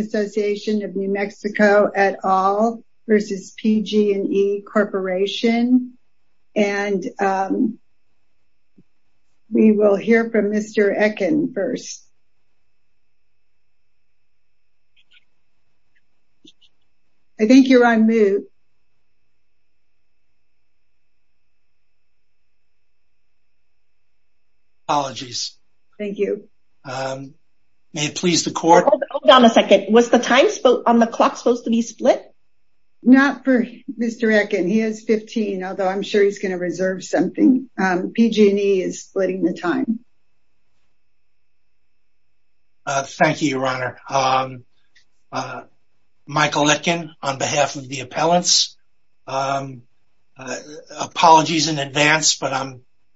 Association of New Mexico et al. v. PG&E Corporation. And we will hear from Mr. Ekin first. I think May it please the court? Hold on a second. Was the time on the clock supposed to be split? Not for Mr. Ekin. He has 15, although I'm sure he's going to reserve something. PG&E is splitting the time. Thank you, Your Honor. Michael Ekin on behalf of the appellants. Apologies in advance, but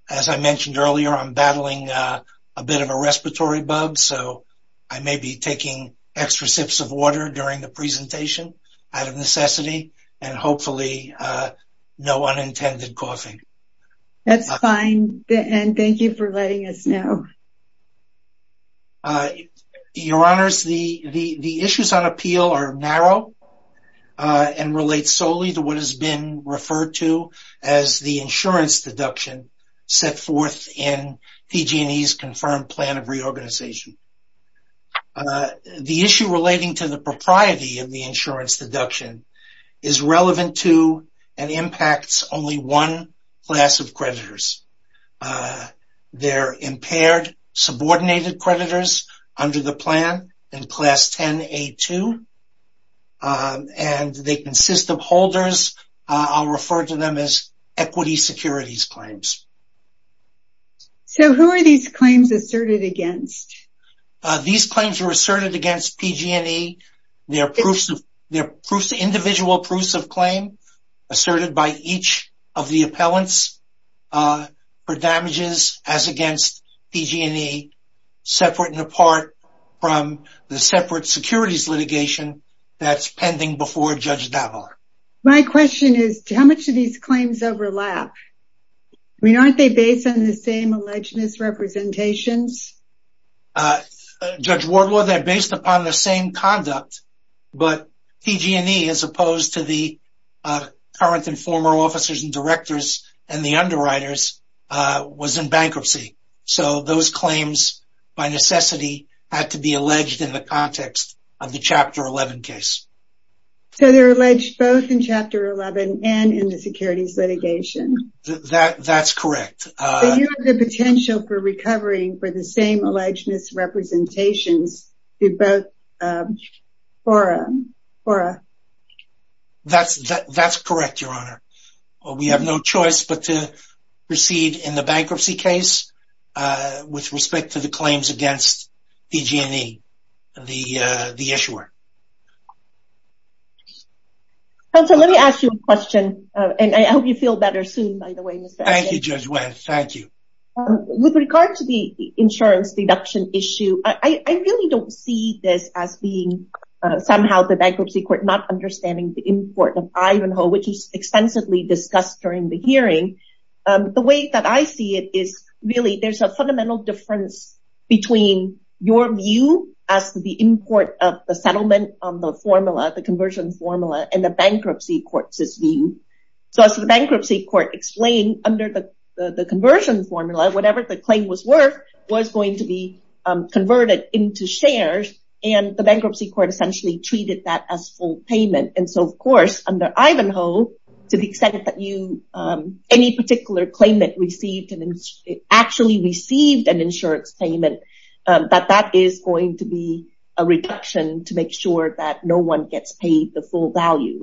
as I mentioned earlier, I'm battling a bit of a respiratory bug, so I may be taking extra sips of water during the presentation out of necessity and hopefully no unintended causing. That's fine, and thank you for letting us know. Your Honors, the issues on appeal are narrow and relate solely to what has been referred to as the insurance deduction set forth in PG&E's confirmed plan of reorganization. The issue relating to the propriety of the insurance deduction is relevant to and impacts only one class of creditors. They're impaired, subordinated creditors under the plan in Class 10A2, and they consist of holders. I'll refer to them as equity securities claims. So who are these claims asserted against? These claims are asserted against PG&E. They're individual proofs of claim asserted by each of the appellants for damages as against PG&E, separate and apart from the separate securities litigation that's pending before Judge Davar. My question is, how much of these claims overlap? I mean, aren't they based on the same alleged misrepresentations? Judge Wardlaw, they're based upon the same conduct, but PG&E, as opposed to the current and former officers and directors and the underwriters, was in bankruptcy. So those claims, by necessity, had to be alleged in the context of the Chapter 11 case. So they're alleged both in Chapter 11 and in the securities litigation? That's correct. So you have the potential for recovering for the same alleged misrepresentations through both fora? That's correct, Your Honor. We have no choice but to proceed in the bankruptcy case with respect to the claims against PG&E, the issuer. Counselor, let me ask you a question, and I hope you feel better soon, by the way. Thank you, Judge Wendt. Thank you. With regard to the insurance deduction issue, I really don't see this as being somehow the Bankruptcy Court not understanding the import of Ivanhoe, which was extensively discussed during the hearing. The way that I see it is really there's a fundamental difference between your view as to the import of the settlement on the formula, the conversion formula, and the Bankruptcy Court's view. So as the Bankruptcy Court explained, under the conversion formula, whatever the claim was worth was going to be converted into shares. And the Bankruptcy Court essentially treated that as full payment. And so, of course, under Ivanhoe, to the extent that any particular claimant actually received an insurance payment, that that is going to be a reduction to make sure that no one gets paid the full value.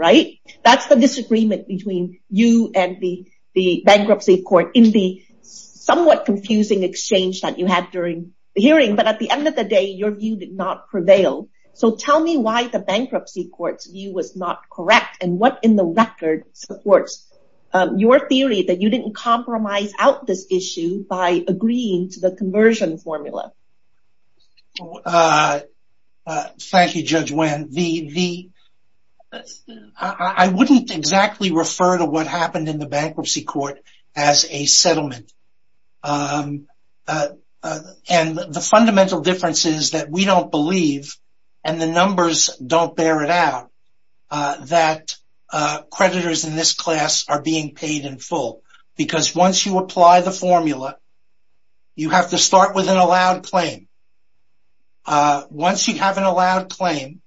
That's the disagreement between you and the Bankruptcy Court in the somewhat confusing exchange that you had during the hearing. But at the end of the day, your view did not prevail. So tell me why the Bankruptcy Court's view was not correct, and what in the record supports your theory that you didn't compromise out this issue by agreeing to the conversion formula? Thank you, Judge Wynn. I wouldn't exactly refer to what happened in the Bankruptcy Court as a settlement. And the fundamental difference is that we don't believe, and the numbers don't bear it out, that creditors in this class are being paid in full. Because once you apply the formula, you have to start with an allowed claim. Once you have an allowed claim,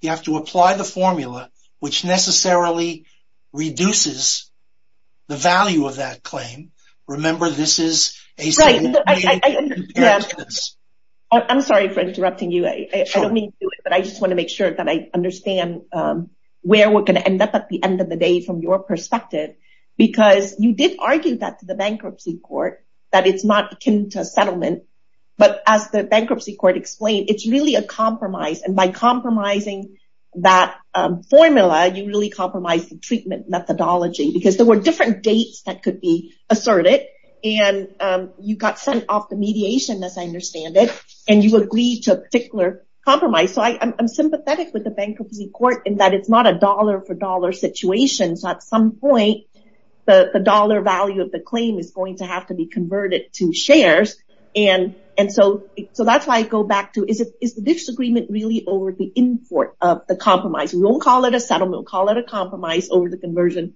you have to apply the formula, which necessarily reduces the value of that claim. I'm sorry for interrupting you. I don't mean to do it, but I just want to make sure that I understand where we're going to end up at the end of the day from your perspective. Because you did argue that to the Bankruptcy Court that it's not akin to settlement. But as the Bankruptcy Court explained, it's really a compromise. And by compromising that formula, you really compromised the treatment methodology. Because there were different dates that could be asserted, and you got sent off the mediation, as I understand it. And you agreed to a particular compromise. So I'm sympathetic with the Bankruptcy Court in that it's not a dollar-for-dollar situation. So at some point, the dollar value of the claim is going to have to be converted to shares. So that's why I go back to, is the disagreement really over the import of the compromise? We won't call it a settlement. We'll call it a compromise over the conversion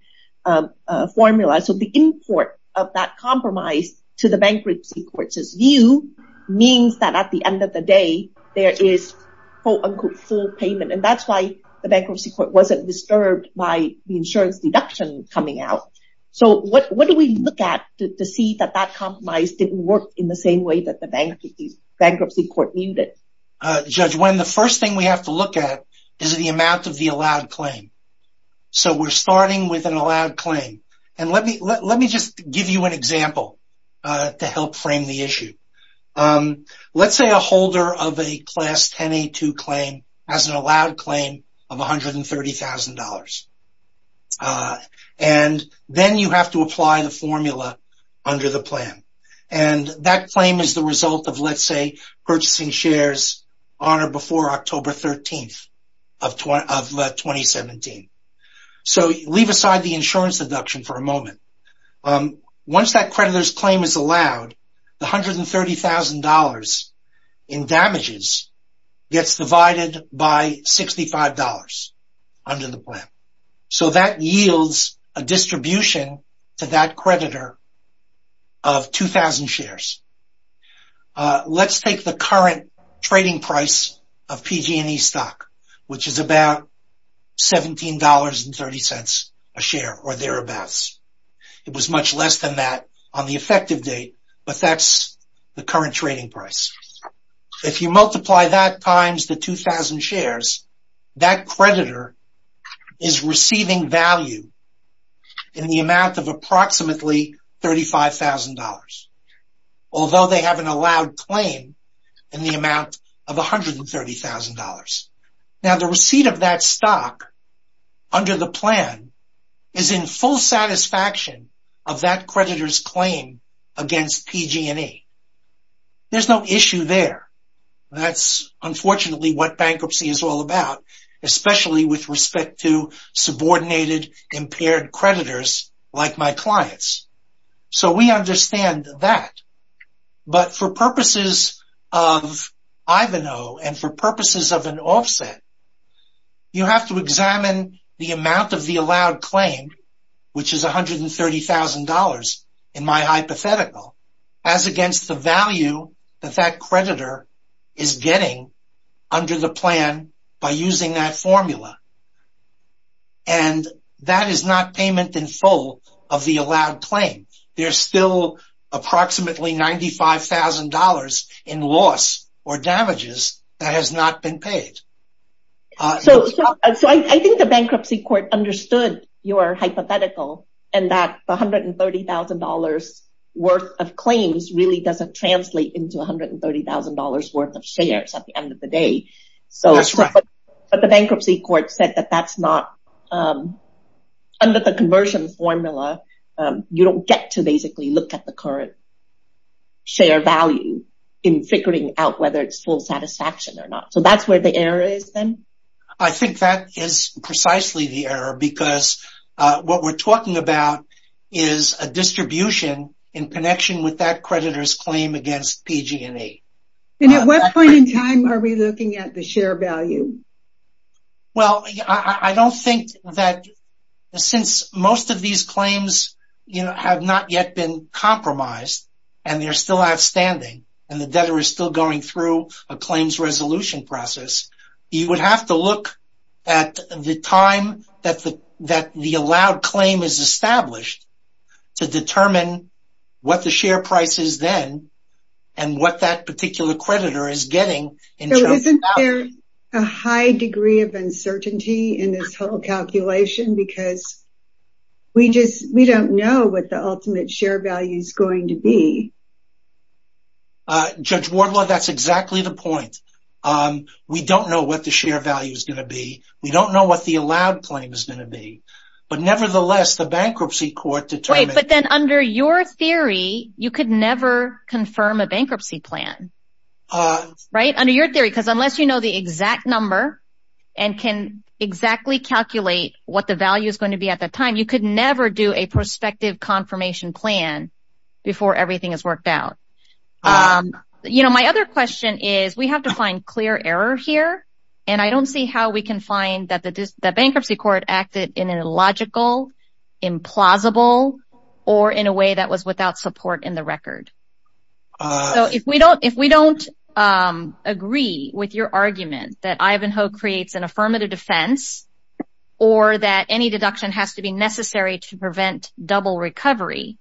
formula. So the import of that compromise to the Bankruptcy Court's view means that at the end of the day, there is full payment. And that's why the Bankruptcy Court wasn't disturbed by the insurance deduction coming out. So what do we look at to see that that compromise didn't work in the same way that the Bankruptcy Court viewed it? Judge Nguyen, the first thing we have to look at is the amount of the allowed claim. So we're starting with an allowed claim. And let me just give you an example to help frame the issue. Let's say a holder of a Class 1082 claim has an allowed claim of $130,000. And then you have to apply the formula under the plan. And that claim is the result of, let's say, purchasing shares on or before October 13th of 2017. So leave aside the insurance deduction for a moment. Once that creditor's claim is allowed, the $130,000 in damages gets divided by $65 under the plan. So that yields a distribution to that creditor of 2,000 shares. Let's take the current trading price of PG&E stock, which is about $17.30 a share or thereabouts. It was much less than that on the effective date, but that's the current trading price. If you multiply that times the 2,000 shares, that creditor is receiving value in the amount of approximately $35,000. Although they have an allowed claim in the amount of $130,000. Now the receipt of that stock under the plan is in full satisfaction of that creditor's claim against PG&E. There's no issue there. That's unfortunately what bankruptcy is all about, especially with respect to subordinated impaired creditors like my clients. So we understand that. But for purposes of Ivanhoe and for purposes of an offset, you have to examine the amount of the allowed claim, which is $130,000 in my hypothetical, as against the value that that creditor is getting under the plan by using that formula. And that is not payment in full of the allowed claim. There's still approximately $95,000 in loss or damages that has not been paid. So I think the bankruptcy court understood your hypothetical and that $130,000 worth of claims really doesn't translate into $130,000 worth of shares at the end of the day. But the bankruptcy court said that that's not under the conversion formula. You don't get to basically look at the current share value in figuring out whether it's full satisfaction or not. So that's where the error is then? I think that is precisely the error because what we're talking about is a distribution in connection with that creditor's claim against PG&E. And at what point in time are we looking at the share value? Well, I don't think that since most of these claims have not yet been compromised and they're still outstanding and the debtor is still going through a claims resolution process, you would have to look at the time that the allowed claim is established to determine what the share price is then and what that particular creditor is getting. So isn't there a high degree of uncertainty in this whole calculation because we don't know what the ultimate share value is going to be? Judge Wardlaw, that's exactly the point. We don't know what the share value is going to be. We don't know what the allowed claim is going to be. But nevertheless, the bankruptcy court determined... Right, but then under your theory, you could never confirm a bankruptcy plan. Right? Under your theory. Because unless you know the exact number and can exactly calculate what the value is going to be at that time, you could never do a prospective confirmation plan before everything is worked out. You know, my other question is we have to find clear error here, and I don't see how we can find that the bankruptcy court acted in a logical, implausible, or in a way that was without support in the record. So if we don't agree with your argument that Ivanhoe creates an affirmative defense or that any deduction has to be necessary to prevent double recovery,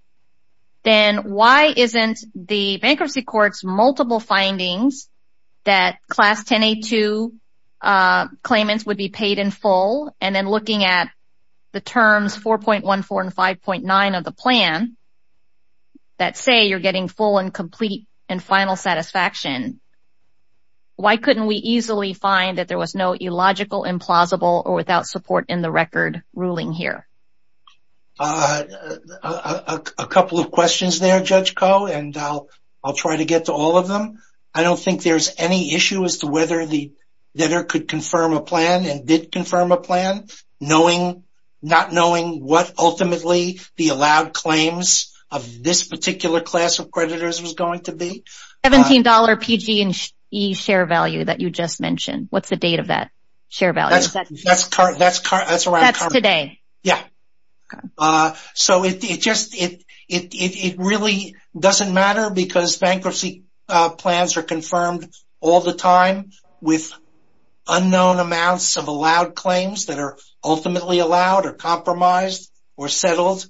then why isn't the bankruptcy court's multiple findings that Class 1082 claimants would be paid in full and then looking at the terms 4.14 and 5.9 of the plan that say you're getting full and complete and final satisfaction, why couldn't we easily find that there was no illogical, implausible, or without support in the record ruling here? A couple of questions there, Judge Koh, and I'll try to get to all of them. I don't think there's any issue as to whether the debtor could confirm a plan and did confirm a plan, not knowing what ultimately the allowed claims of this particular class of creditors was going to be. The $17 PG&E share value that you just mentioned, what's the date of that share value? That's today. Yeah. So it really doesn't matter because bankruptcy plans are confirmed all the time with unknown amounts of allowed claims that are ultimately allowed or compromised or settled.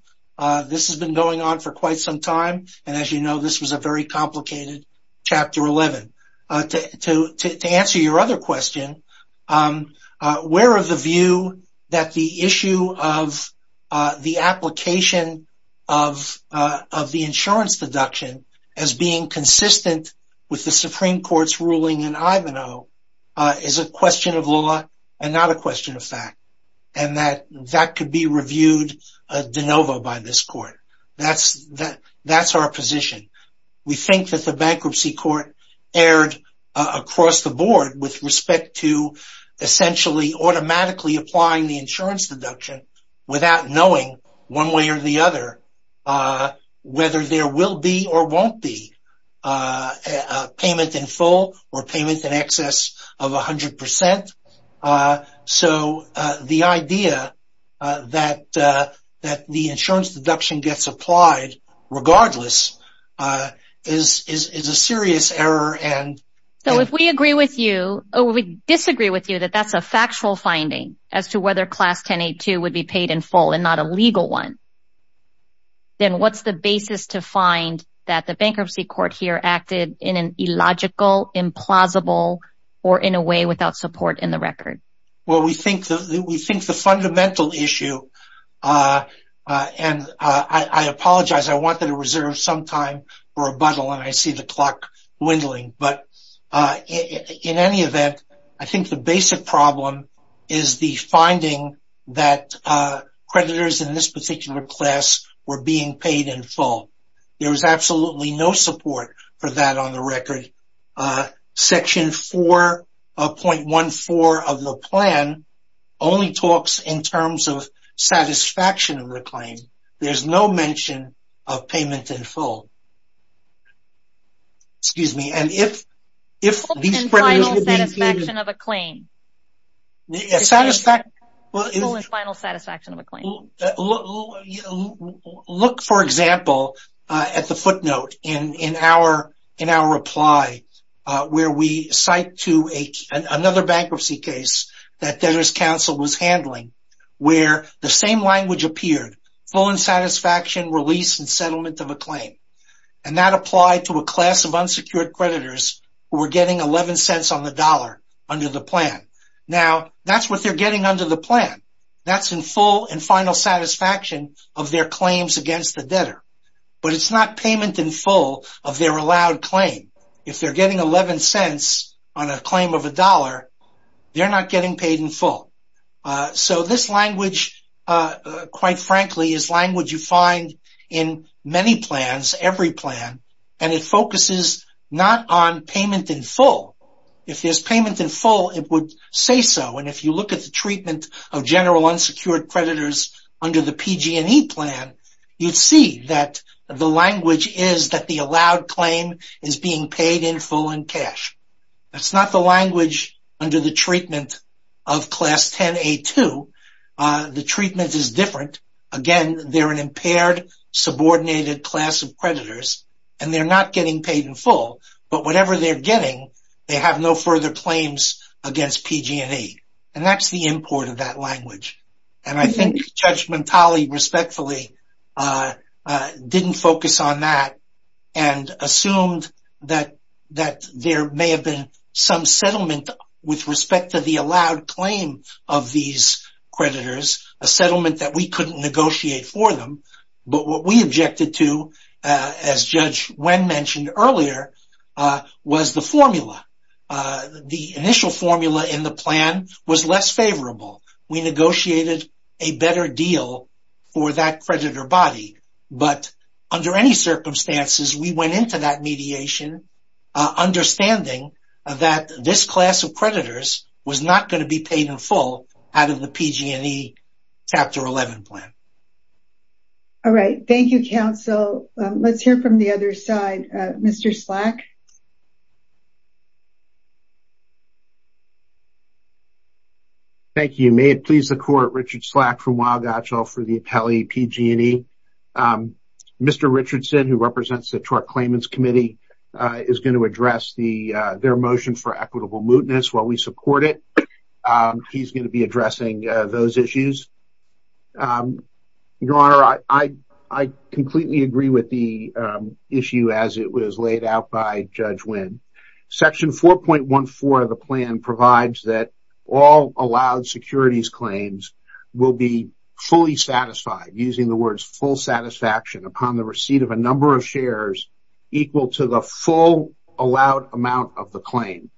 This has been going on for quite some time, and as you know, this was a very complicated Chapter 11. To answer your other question, where is the view that the issue of the application of the insurance deduction as being consistent with the Supreme Court's ruling in Ivanhoe is a question of law and not a question of fact, and that that could be reviewed de novo by this Court. That's our position. We think that the Bankruptcy Court erred across the board with respect to essentially automatically applying the insurance deduction without knowing one way or the other whether there will be or won't be a payment in full or payment in excess of 100%. So the idea that the insurance deduction gets applied regardless is a serious error. So if we disagree with you that that's a factual finding as to whether Class 1082 would be paid in full and not a legal one, then what's the basis to find that the Bankruptcy Court here acted in an illogical, implausible, or in a way without support in the record? Well, we think the fundamental issue, and I apologize. I wanted to reserve some time for rebuttal, and I see the clock dwindling, but in any event, I think the basic problem is the finding that creditors in this particular class were being paid in full. There was absolutely no support for that on the record. Section 4.14 of the plan only talks in terms of satisfaction of the claim. There's no mention of payment in full. Look, for example, at the footnote in our reply where we cite to another bankruptcy case that Debtor's Counsel was handling where the same language appeared, full in satisfaction, release, and settlement of a claim, and that applied to a class of unsecured creditors who were getting 11 cents on the dollar under the plan. Now, that's what they're getting under the plan. That's in full and final satisfaction of their claims against the debtor, but it's not payment in full of their allowed claim. If they're getting 11 cents on a claim of a dollar, they're not getting paid in full. So this language, quite frankly, is language you find in many plans, every plan, and it focuses not on payment in full. If there's payment in full, it would say so, and if you look at the treatment of general unsecured creditors under the PG&E plan, you'd see that the language is that the allowed claim is being paid in full in cash. That's not the language under the treatment of Class 10A2. The treatment is different. Again, they're an impaired, subordinated class of creditors, and they're not getting paid in full, but whatever they're getting, they have no further claims against PG&E, and that's the import of that language, and I think Judge Mentale respectfully didn't focus on that and assumed that there may have been some settlement with respect to the allowed claim of these creditors, a settlement that we couldn't negotiate for them, but what we objected to, as Judge Wen mentioned earlier, was the formula. The initial formula in the plan was less favorable. We negotiated a better deal for that creditor body, but under any circumstances, we went into that mediation understanding that this class of creditors was not going to be paid in full out of the PG&E Chapter 11 plan. All right. Thank you, counsel. Let's hear from the other side. Mr. Slack? Thank you. May it please the Court, Richard Slack from Waugatcho for the appellee PG&E. Mr. Richardson, who represents the Tort Claimants Committee, is going to address their motion for equitable mootness. While we support it, he's going to be addressing those issues. Your Honor, I completely agree with the issue as it was laid out by Judge Wen. Section 4.14 of the plan provides that all allowed securities claims will be fully satisfied, using the words full satisfaction, upon the receipt of a number of shares equal to the full allowed amount of the claim,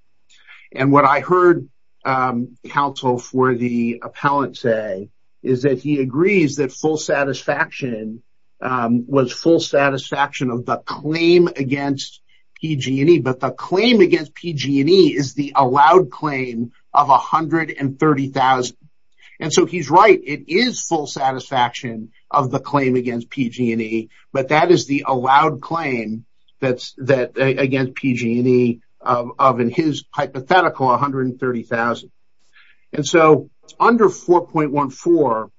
and what I heard counsel for the appellant say is that he agrees that full satisfaction was full satisfaction of the claim against PG&E, but the claim against PG&E is the allowed claim of $130,000. And so he's right. It is full satisfaction of the claim against PG&E, but that is the allowed claim against PG&E of, in his hypothetical, $130,000. And so under 4.14,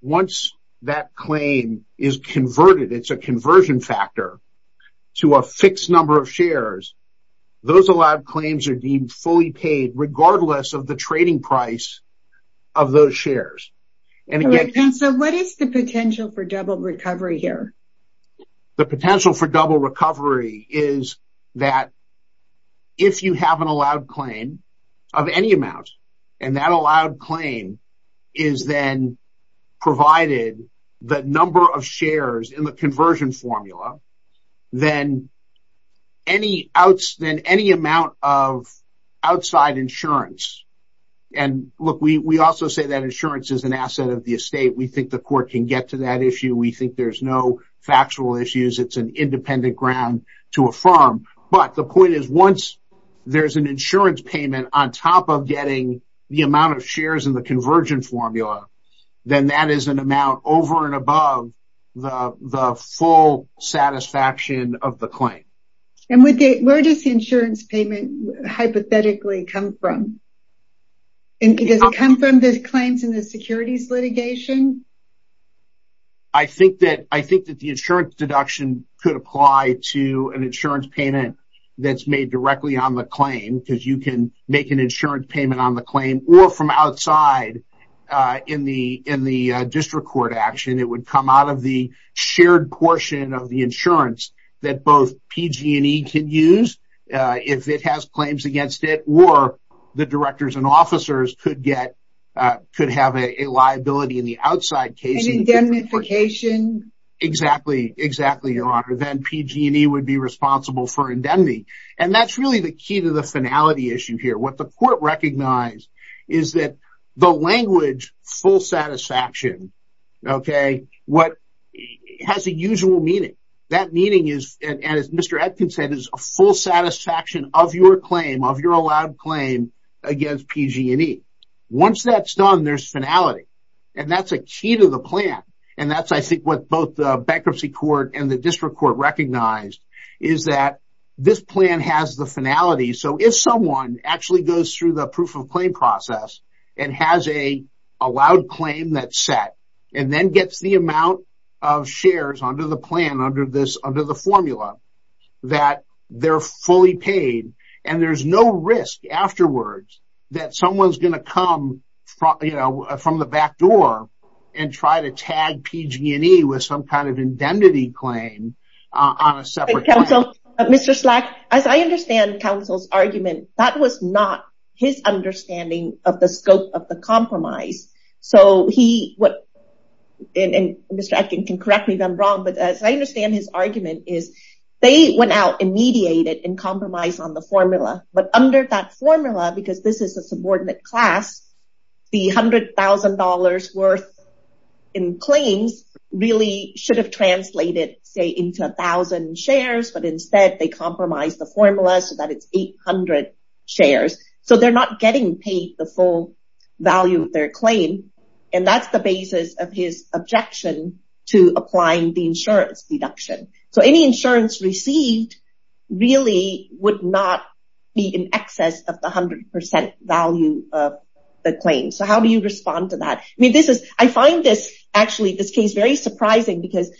once that claim is converted, it's a conversion factor to a fixed number of shares, those allowed claims are deemed fully paid, regardless of the trading price of those shares. So what is the potential for double recovery here? The potential for double recovery is that if you have an allowed claim of any amount, and that allowed claim is then provided, the number of shares in the conversion formula, then any amount of outside insurance, and look, we also say that insurance is an asset of the estate. We think the court can get to that issue. We think there's no factual issues. It's an independent ground to affirm, but the point is once there's an insurance payment on top of getting the amount of shares in the conversion formula, then that is an amount over and above the full satisfaction of the claim. And where does the insurance payment hypothetically come from? Does it come from the claims in the securities litigation? I think that the insurance deduction could apply to an insurance payment that's made directly on the claim, because you can make an insurance payment on the claim, or from outside in the district court action. It would come out of the shared portion of the insurance that both PG&E can use if it has claims against it, or the directors and officers could have a liability in the outside case. And indemnification? Exactly, exactly, Your Honor. Then PG&E would be responsible for indemnity. And that's really the key to the finality issue here. What the court recognized is that the language full satisfaction, okay, has a usual meaning. That meaning is, as Mr. Atkins said, is a full satisfaction of your claim, of your allowed claim against PG&E. Once that's done, there's finality. And that's a key to the plan. And that's, I think, what both the bankruptcy court and the district court recognized is that this plan has the finality. So if someone actually goes through the proof of claim process and has a allowed claim that's set, and then gets the amount of shares under the plan, under the formula, that they're fully paid, and there's no risk afterwards that someone's going to come from the back door and try to tag PG&E with some kind of indemnity claim on a separate claim. So, Mr. Slack, as I understand counsel's argument, that was not his understanding of the scope of the compromise. So he, and Mr. Atkins can correct me if I'm wrong, but as I understand his argument is they went out and mediated and compromised on the formula. But under that formula, because this is a subordinate class, the $100,000 worth in claims really should have translated, say, into 1,000 shares. But instead they compromised the formula so that it's 800 shares. So they're not getting paid the full value of their claim. And that's the basis of his objection to applying the insurance deduction. So any insurance received really would not be in excess of the 100% value of the claim. So how do you respond to that? I mean, this is, I find this, actually, this case very surprising because,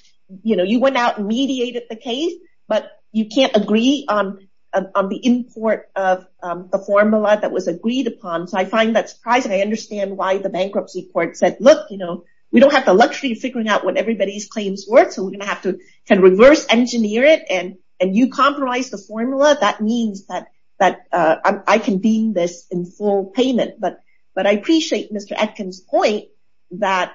you know, you went out and mediated the case, but you can't agree on the import of the formula that was agreed upon. So I find that surprising. I understand why the bankruptcy court said, look, you know, we don't have the luxury of figuring out what everybody's claims were, so we're going to have to kind of reverse engineer it. And you compromised the formula. That means that I can deem this in full payment. But I appreciate Mr. Atkins' point that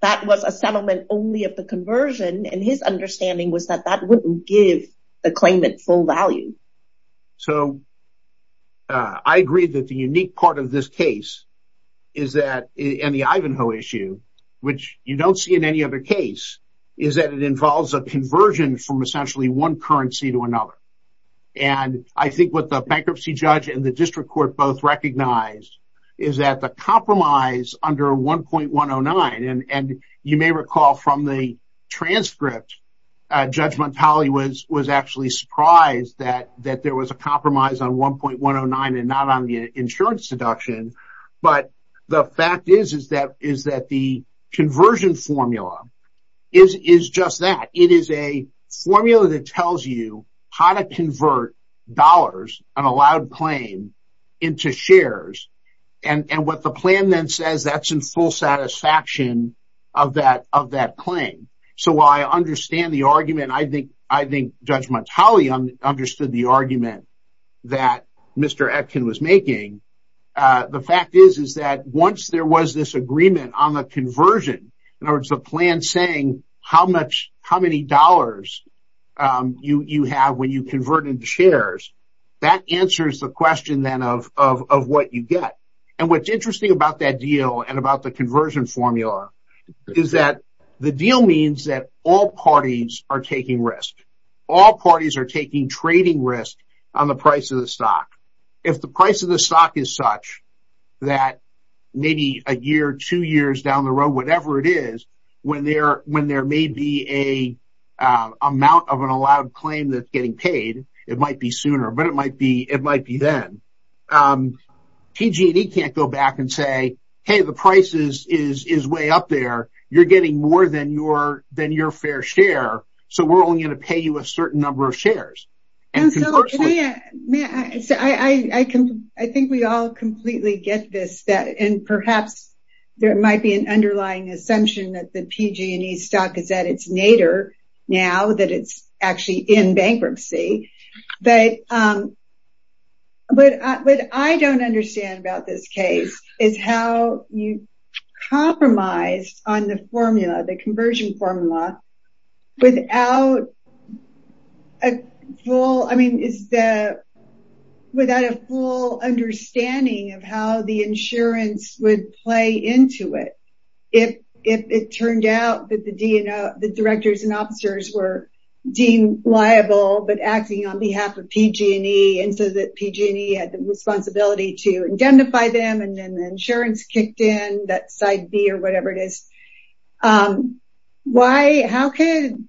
that was a settlement only of the conversion, and his understanding was that that wouldn't give the claimant full value. So I agree that the unique part of this case is that in the Ivanhoe issue, which you don't see in any other case, is that it involves a conversion from essentially one currency to another. And I think what the bankruptcy judge and the district court both recognized is that the compromise under 1.109, and you may recall from the transcript, Judge Montali was actually surprised that there was a compromise on 1.109 and not on the insurance deduction. But the fact is that the conversion formula is just that. It is a formula that tells you how to convert dollars, an allowed claim, into shares. And what the plan then says, that's in full satisfaction of that claim. So while I understand the argument, I think Judge Montali understood the argument that Mr. Atkins was making. The fact is that once there was this agreement on the conversion, in other words the plan saying how many dollars you have when you convert into shares, that answers the question then of what you get. And what's interesting about that deal and about the conversion formula is that the deal means that all parties are taking risk. All parties are taking trading risk on the price of the stock. If the price of the stock is such that maybe a year, two years down the road, or whatever it is, when there may be an amount of an allowed claim that's getting paid, it might be sooner, but it might be then. PG&E can't go back and say, hey, the price is way up there, you're getting more than your fair share, so we're only going to pay you a certain number of shares. I think we all completely get this, and perhaps there might be an underlying assumption that the PG&E stock is at its nadir now, that it's actually in bankruptcy. But what I don't understand about this case is how you compromise on the formula, the conversion formula, without a full understanding of how the insurance would play into it. If it turned out that the directors and officers were deemed liable, but acting on behalf of PG&E and so that PG&E had the responsibility to identify them and then the insurance kicked in, that side B or whatever it is. How could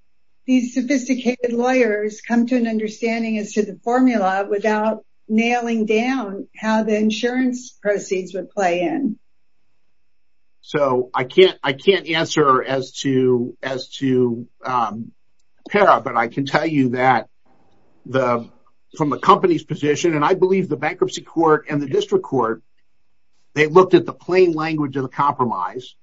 these sophisticated lawyers come to an understanding as to the formula without nailing down how the insurance proceeds would play in? I can't answer as to Para, but I can tell you that from the company's position, and I believe the bankruptcy court and the district court, they looked at the plain language of the compromise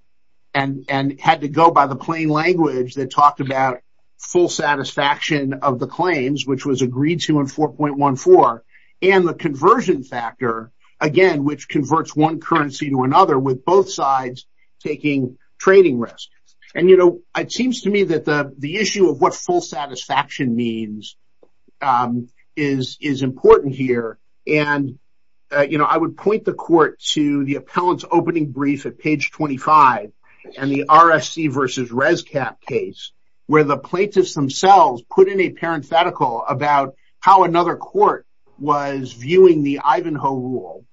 and had to go by the plain language that talked about full satisfaction of the claims, which was agreed to in 4.14, and the conversion factor, again, which converts one currency to another with both sides taking trading risk. It seems to me that the issue of what full satisfaction means is important here, and I would point the court to the appellant's opening brief at page 25 and the RSC versus ResCap case where the plaintiffs themselves put in a parenthetical about how another court was viewing the Ivanhoe rule,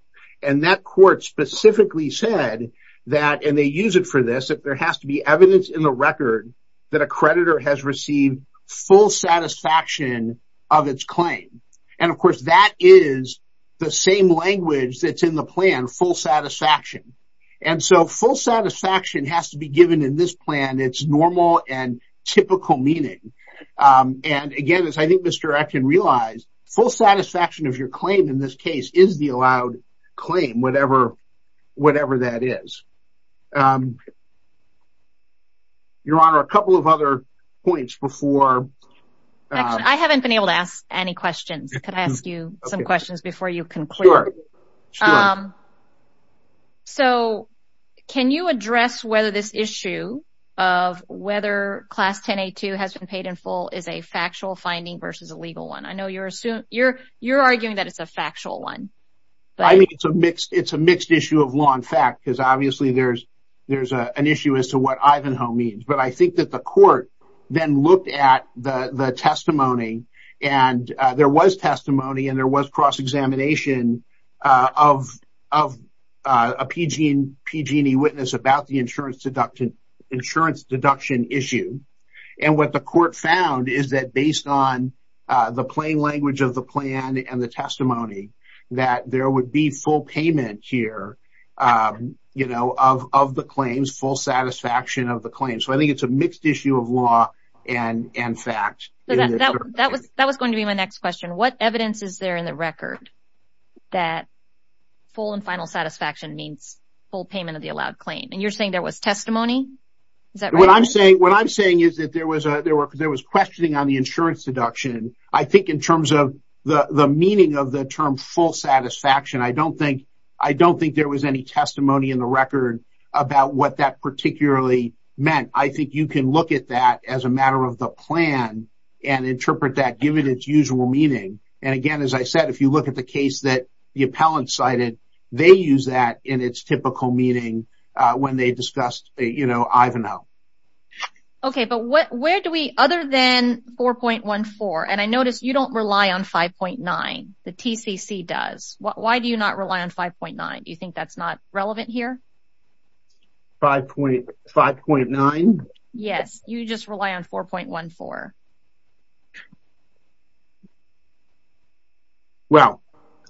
and that court specifically said that, and they use it for this, that there has to be evidence in the record that a creditor has received full satisfaction of its claim. And, of course, that is the same language that's in the plan, full satisfaction. And so full satisfaction has to be given in this plan its normal and typical meaning. And, again, as I think Mr. Acton realized, full satisfaction of your claim in this case is the allowed claim, whatever that is. Your Honor, a couple of other points before... I haven't been able to ask any questions. Could I ask you some questions before you conclude? Sure. So can you address whether this issue of whether Class 1082 has been paid in full is a factual finding versus a legal one? I know you're arguing that it's a factual one. I mean, it's a mixed issue of law and fact because, obviously, there's an issue as to what Ivanhoe means. But I think that the court then looked at the testimony, and there was testimony and there was cross-examination of a PG&E witness about the insurance deduction issue. And what the court found is that based on the plain language of the plan and the testimony that there would be full payment here of the claims, full satisfaction of the claims. So I think it's a mixed issue of law and fact. That was going to be my next question. What evidence is there in the record that full and final satisfaction means full payment of the allowed claim? And you're saying there was testimony? What I'm saying is that there was questioning on the insurance deduction. I think in terms of the meaning of the term full satisfaction, I don't think there was any testimony in the record about what that particularly meant. I think you can look at that as a matter of the plan and interpret that given its usual meaning. And, again, as I said, if you look at the case that the appellant cited, they use that in its typical meaning when they discussed Ivanhoe. Okay, but where do we, other than 4.14, and I notice you don't rely on 5.9. The TCC does. Why do you not rely on 5.9? Do you think that's not relevant here? 5.9? Yes, you just rely on 4.14. Well,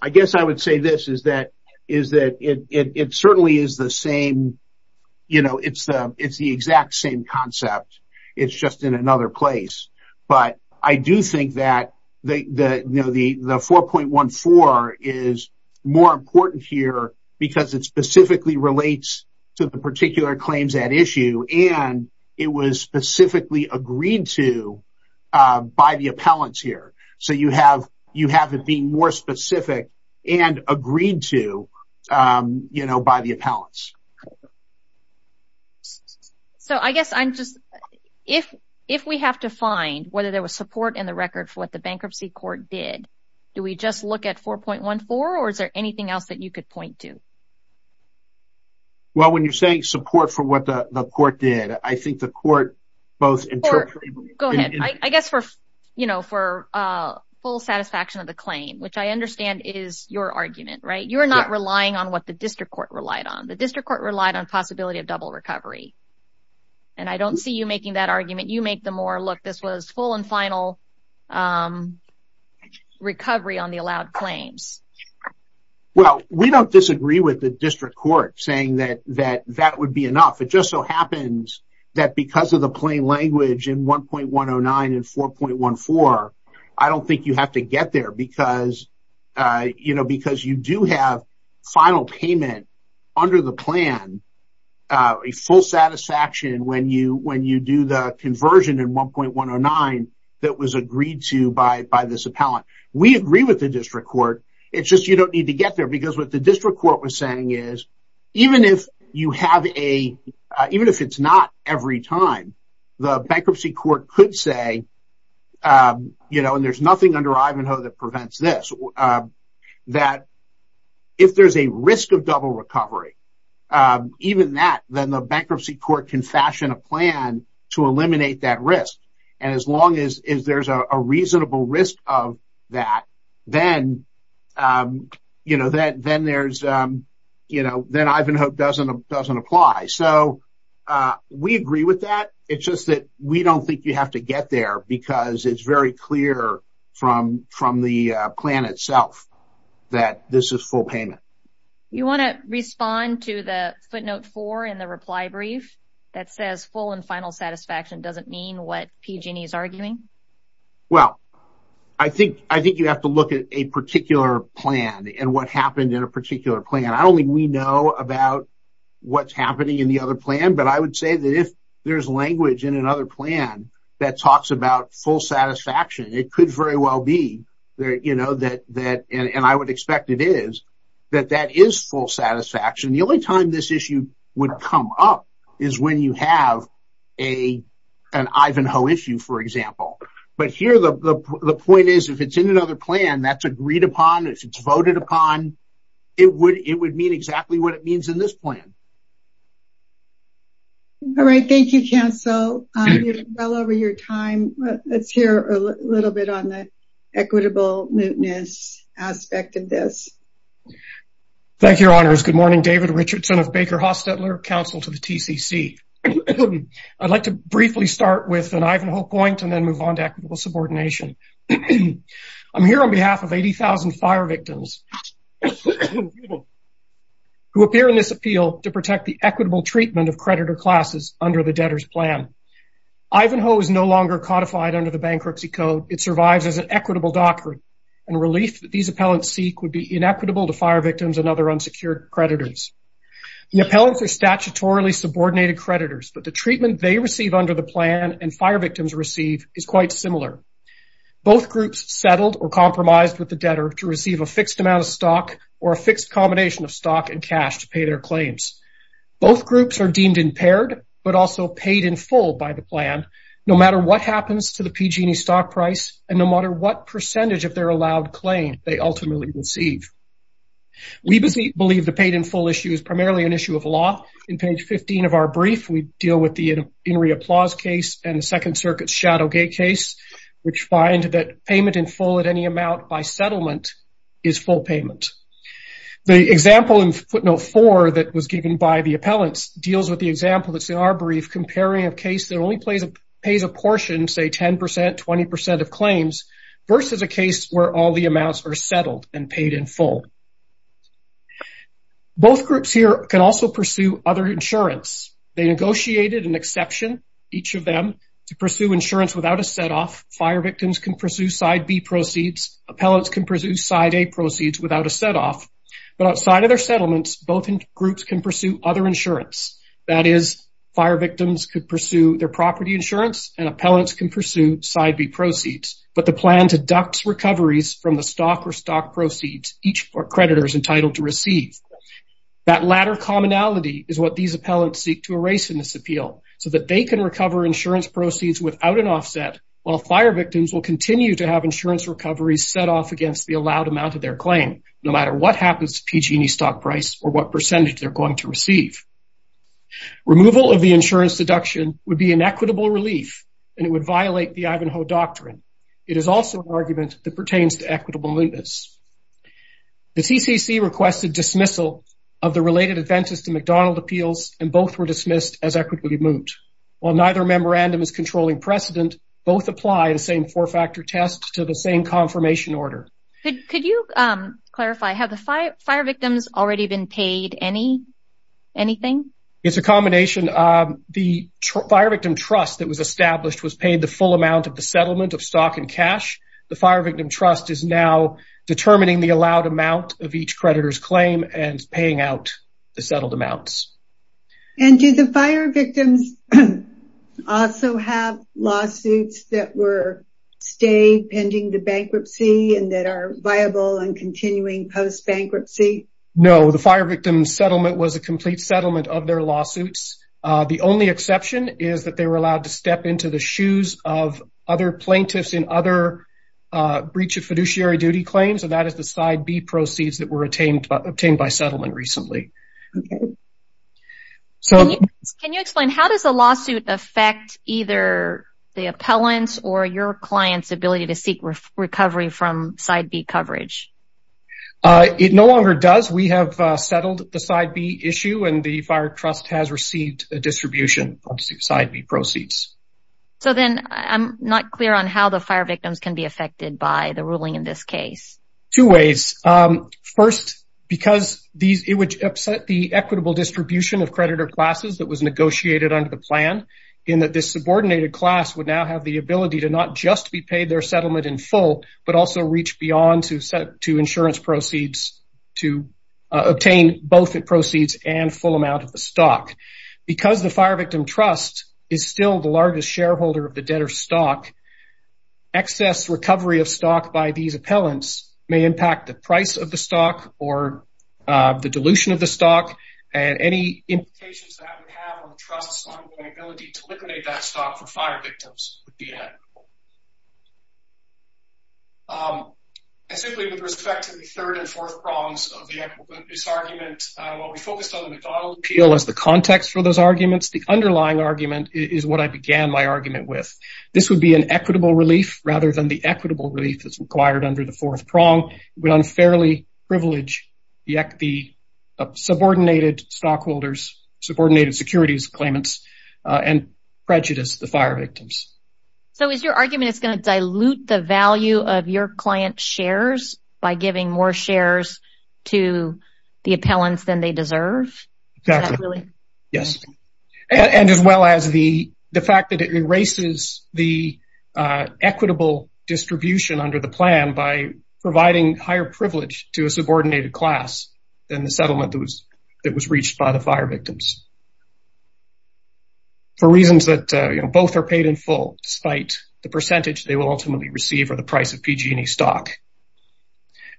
I guess I would say this, is that it certainly is the same, you know, it's the exact same concept. It's just in another place. But I do think that, you know, the 4.14 is more important here because it specifically relates to the particular claims at issue, and it was specifically agreed to by the appellants here. So you have it being more specific and agreed to, you know, by the appellants. So I guess I'm just, if we have to find whether there was support in the record for what the bankruptcy court did, do we just look at 4.14, or is there anything else that you could point to? Well, when you're saying support for what the court did, I think the court both interpreted. Go ahead. I guess for, you know, for full satisfaction of the claim, which I understand is your argument, right? You're not relying on what the district court relied on. The district court relied on possibility of double recovery. And I don't see you making that argument. You make the more, look, this was full and final recovery on the allowed claims. Well, we don't disagree with the district court saying that that would be enough. It just so happens that because of the plain language in 1.109 and 4.14, I don't think you have to get there because, you know, a full satisfaction when you do the conversion in 1.109 that was agreed to by this appellant. We agree with the district court. It's just you don't need to get there because what the district court was saying is, even if you have a, even if it's not every time, the bankruptcy court could say, you know, and there's nothing under Ivanhoe that prevents this, that if there's a risk of double recovery, even that, then the bankruptcy court can fashion a plan to eliminate that risk. And as long as there's a reasonable risk of that, then, you know, then there's, you know, then Ivanhoe doesn't apply. So we agree with that. It's just that we don't think you have to get there because it's very clear from the plan itself that this is full payment. You want to respond to the footnote four in the reply brief that says, full and final satisfaction doesn't mean what PG&E is arguing? Well, I think you have to look at a particular plan and what happened in a particular plan. I don't think we know about what's happening in the other plan, but I would say that if there's language in another plan that talks about full satisfaction, it could very well be that, and I would expect it is, that that is full satisfaction. The only time this issue would come up is when you have an Ivanhoe issue, for example. But here the point is, if it's in another plan that's agreed upon, if it's voted upon, it would mean exactly what it means in this plan. All right. Thank you, Counsel. You're well over your time. Let's hear a little bit on the equitable mootness aspect of this. Thank you, Your Honors. Good morning. David Richardson of Baker Hostetler, Counsel to the TCC. I'd like to briefly start with an Ivanhoe point and then move on to equitable subordination. I'm here on behalf of 80,000 fire victims who appear in this appeal to protect the equitable treatment of creditor classes under the debtor's plan. Ivanhoe is no longer codified under the Bankruptcy Code. It survives as an equitable doctrine, and relief that these appellants seek would be inequitable to fire victims and other unsecured creditors. The appellants are statutorily subordinated creditors, but the treatment they receive under the plan and fire victims receive is quite similar. Both groups settled or compromised with the debtor to receive a fixed amount of stock or a fixed combination of stock and cash to pay their claims. Both groups are deemed impaired but also paid in full by the plan, no matter what happens to the PG&E stock price and no matter what percentage of their allowed claim they ultimately receive. We believe the paid in full issue is primarily an issue of law. In page 15 of our brief, we deal with the In re Applause case and the Second Circuit's Shadowgate case, which find that payment in full at any amount by settlement is full payment. The example in footnote 4 that was given by the appellants deals with the example that's in our brief, comparing a case that only pays a portion, say 10%, 20% of claims, versus a case where all the amounts are settled and paid in full. Both groups here can also pursue other insurance. They negotiated an exception, each of them, to pursue insurance without a set-off. Fire victims can pursue side B proceeds. Appellants can pursue side A proceeds without a set-off. But outside of their settlements, both groups can pursue other insurance. That is, fire victims could pursue their property insurance and appellants can pursue side B proceeds. But the plan deducts recoveries from the stock or stock proceeds each creditor is entitled to receive. That latter commonality is what these appellants seek to erase in this appeal so that they can recover insurance proceeds without an offset while fire victims will continue to have insurance recoveries set off against the allowed amount of their claim, no matter what happens to PG&E's stock price or what percentage they're going to receive. Removal of the insurance deduction would be an equitable relief and it would violate the Ivanhoe Doctrine. It is also an argument that pertains to equitable litmus. The TCC requested dismissal of the related advances to McDonald Appeals and both were dismissed as equitably moved. While neither memorandum is controlling precedent, both apply the same four-factor test to the same confirmation order. Could you clarify, have the fire victims already been paid anything? It's a combination. The fire victim trust that was established was paid the full amount of the settlement of stock and cash. The fire victim trust is now determining the allowed amount of each creditor's claim and paying out the settled amounts. And do the fire victims also have lawsuits that were stayed pending the bankruptcy and that are viable and continuing post-bankruptcy? No, the fire victim settlement was a complete settlement of their lawsuits. The only exception is that they were allowed to step into the shoes of other plaintiffs in other breach of fiduciary duty claims, and that is the Side B proceeds that were obtained by settlement recently. Can you explain, how does a lawsuit affect either the appellant's or your client's ability to seek recovery from Side B coverage? It no longer does. We have settled the Side B issue and the fire trust has received a distribution of Side B proceeds. So then, I'm not clear on how the fire victims can be affected by the ruling in this case. Two ways. First, because it would upset the equitable distribution of creditor classes that was negotiated under the plan, in that this subordinated class would now have the ability to not just be paid their settlement in full, but also reach beyond to insurance proceeds to obtain both the proceeds and full amount of the stock. Because the fire victim trust is still the largest shareholder of the debtor's stock, excess recovery of stock by these appellants may impact the price of the stock or the dilution of the stock, and any implications that would have on the trust's ongoing ability to liquidate that stock for fire victims would be inevitable. And simply with respect to the third and fourth prongs of this argument, while we focused on the McDonnell Appeal as the context for those arguments, the underlying argument is what I began my argument with. This would be an equitable relief rather than the equitable relief that's required under the fourth prong. It would unfairly privilege the subordinated stockholders, subordinated securities claimants, and prejudice the fire victims. So is your argument it's going to dilute the value of your client's shares by giving more shares to the appellants than they deserve? Exactly. Yes. And as well as the fact that it erases the equitable distribution under the plan by providing higher privilege to a subordinated class than the settlement that was reached by the fire victims. For reasons that both are paid in full, despite the percentage they will ultimately receive or the price of PG&E stock.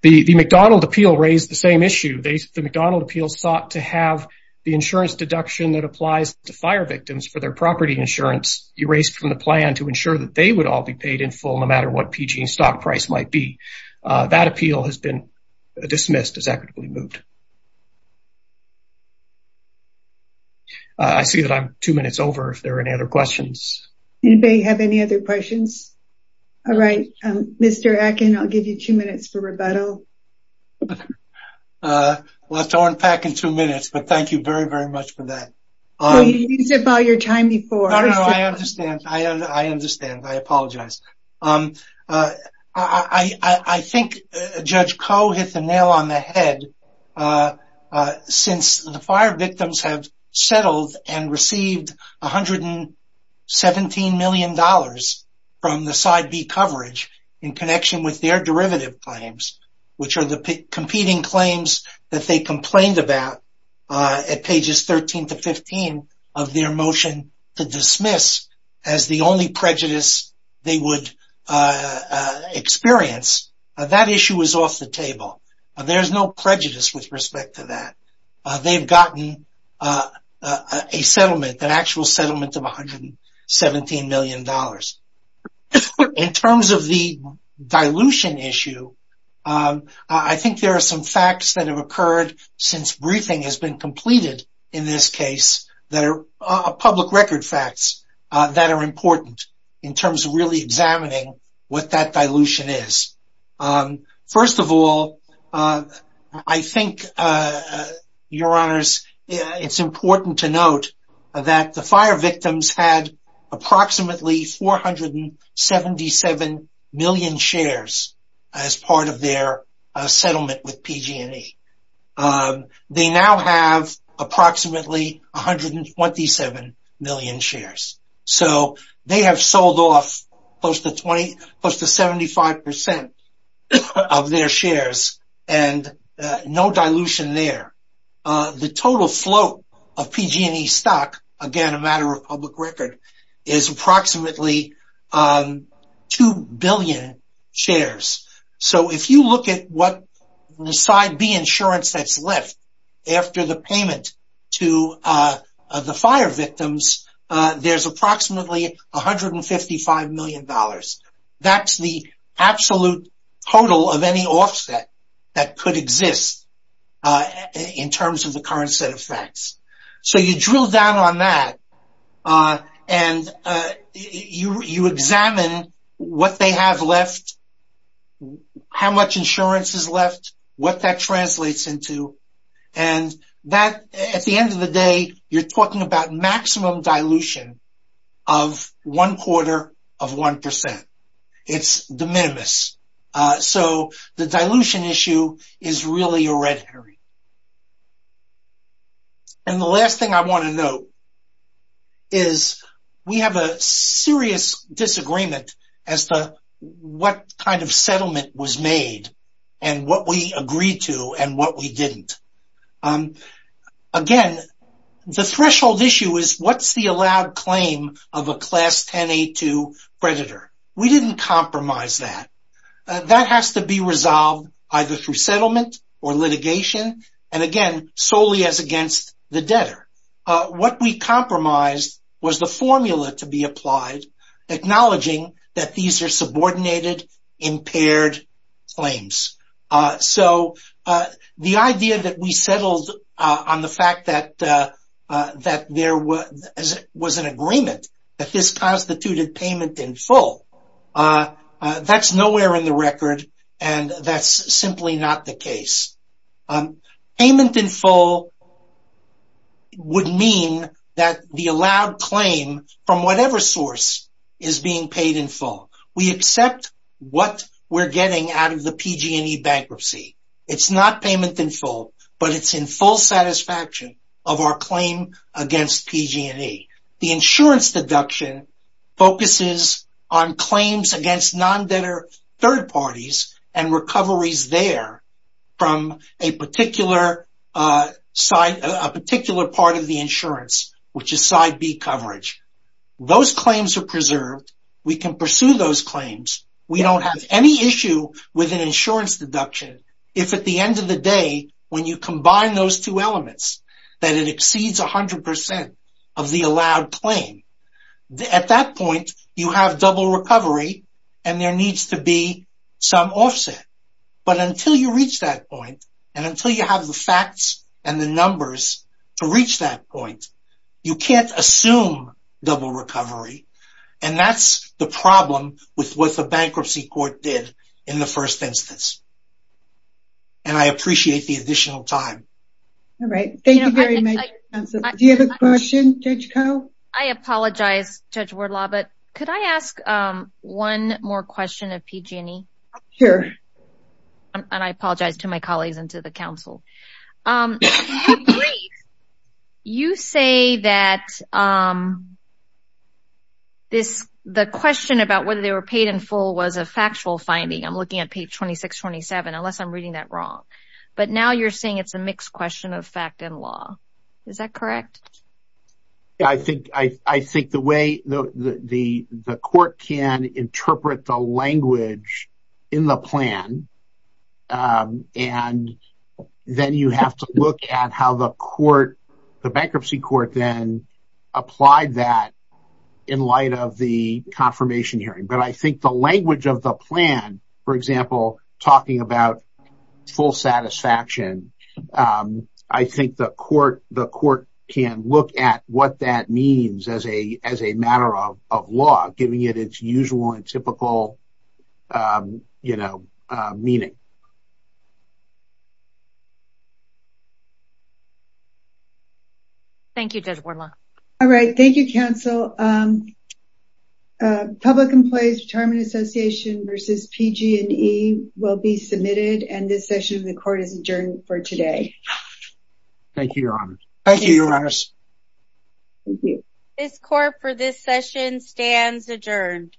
The McDonnell Appeal raised the same issue. The McDonnell Appeal sought to have the insurance deduction that applies to fire victims for their property insurance erased from the plan to ensure that they would all be paid in full no matter what PG&E stock price might be. That appeal has been dismissed as equitably moved. I see that I'm two minutes over if there are any other questions. Anybody have any other questions? All right. Mr. Atkin, I'll give you two minutes for rebuttal. Well, it's going back in two minutes, but thank you very, very much for that. You used up all your time before. No, no, no. I understand. I understand. I apologize. I think Judge Koh hit the nail on the head. Since the fire victims have settled and received $117 million from the Side B coverage in connection with their derivative claims, which are the competing claims that they complained about at pages 13 to 15 of their motion to dismiss as the only prejudice they would experience, that issue is off the table. There's no prejudice with respect to that. They've gotten a settlement, an actual settlement of $117 million. In terms of the dilution issue, I think there are some facts that have occurred since briefing has been completed in this case that are public record facts that are important in terms of really examining what that dilution is. First of all, I think, Your Honors, it's important to note that the fire victims had approximately 477 million shares as part of their settlement with PG&E. They now have approximately 127 million shares. They have sold off close to 75% of their shares and no dilution there. The total float of PG&E stock, again, a matter of public record, is approximately 2 billion shares. If you look at what the Side B insurance that's left after the payment to the fire victims, there's approximately $155 million. That's the absolute total of any offset that could exist in terms of the current set of facts. So you drill down on that and you examine what they have left, how much insurance is left, what that translates into, and at the end of the day, you're talking about maximum dilution of one quarter of 1%. It's de minimis. So the dilution issue is really a red herring. And the last thing I want to note is we have a serious disagreement as to what kind of settlement was made and what we agreed to and what we didn't. Again, the threshold issue is, what's the allowed claim of a Class 10A2 creditor? We didn't compromise that. That has to be resolved either through settlement or litigation and, again, solely as against the debtor. What we compromised was the formula to be applied acknowledging that these are subordinated, impaired claims. So the idea that we settled on the fact that there was an agreement that this constituted payment in full, that's nowhere in the record and that's simply not the case. Payment in full would mean that the allowed claim from whatever source is being paid in full. We accept what we're getting out of the PG&E bankruptcy. It's not payment in full, but it's in full satisfaction of our claim against PG&E. The insurance deduction focuses on claims against non-debtor third parties and recoveries there from a particular part of the insurance, which is Side B coverage. Those claims are preserved. We can pursue those claims. We don't have any issue with an insurance deduction if at the end of the day, when you combine those two elements, that it exceeds 100% of the allowed claim. At that point, you have double recovery and there needs to be some offset. But until you reach that point and until you have the facts and the numbers to reach that point, you can't assume double recovery and that's the problem with what the bankruptcy court did in the first instance. And I appreciate the additional time. All right. Thank you very much. Do you have a question, Judge Koh? I apologize, Judge Wardlaw, but could I ask one more question of PG&E? Sure. And I apologize to my colleagues and to the council. You say that the question about whether they were paid in full was a factual finding. I'm looking at page 26-27, unless I'm reading that wrong. But now you're saying it's a mixed question of fact and law. Is that correct? I think the way the court can interpret the language in the plan and then you have to look at how the bankruptcy court then applied that in light of the confirmation hearing. But I think the language of the plan, for example, talking about full satisfaction, I think the court can look at what that means as a matter of law, giving it its usual and typical meaning. Thank you, Judge Wardlaw. All right. Thank you, counsel. Public Employees Retirement Association versus PG&E will be submitted, and this session of the court is adjourned for today. Thank you, Your Honors. Thank you, Your Honors. Thank you. Court for this session stands adjourned.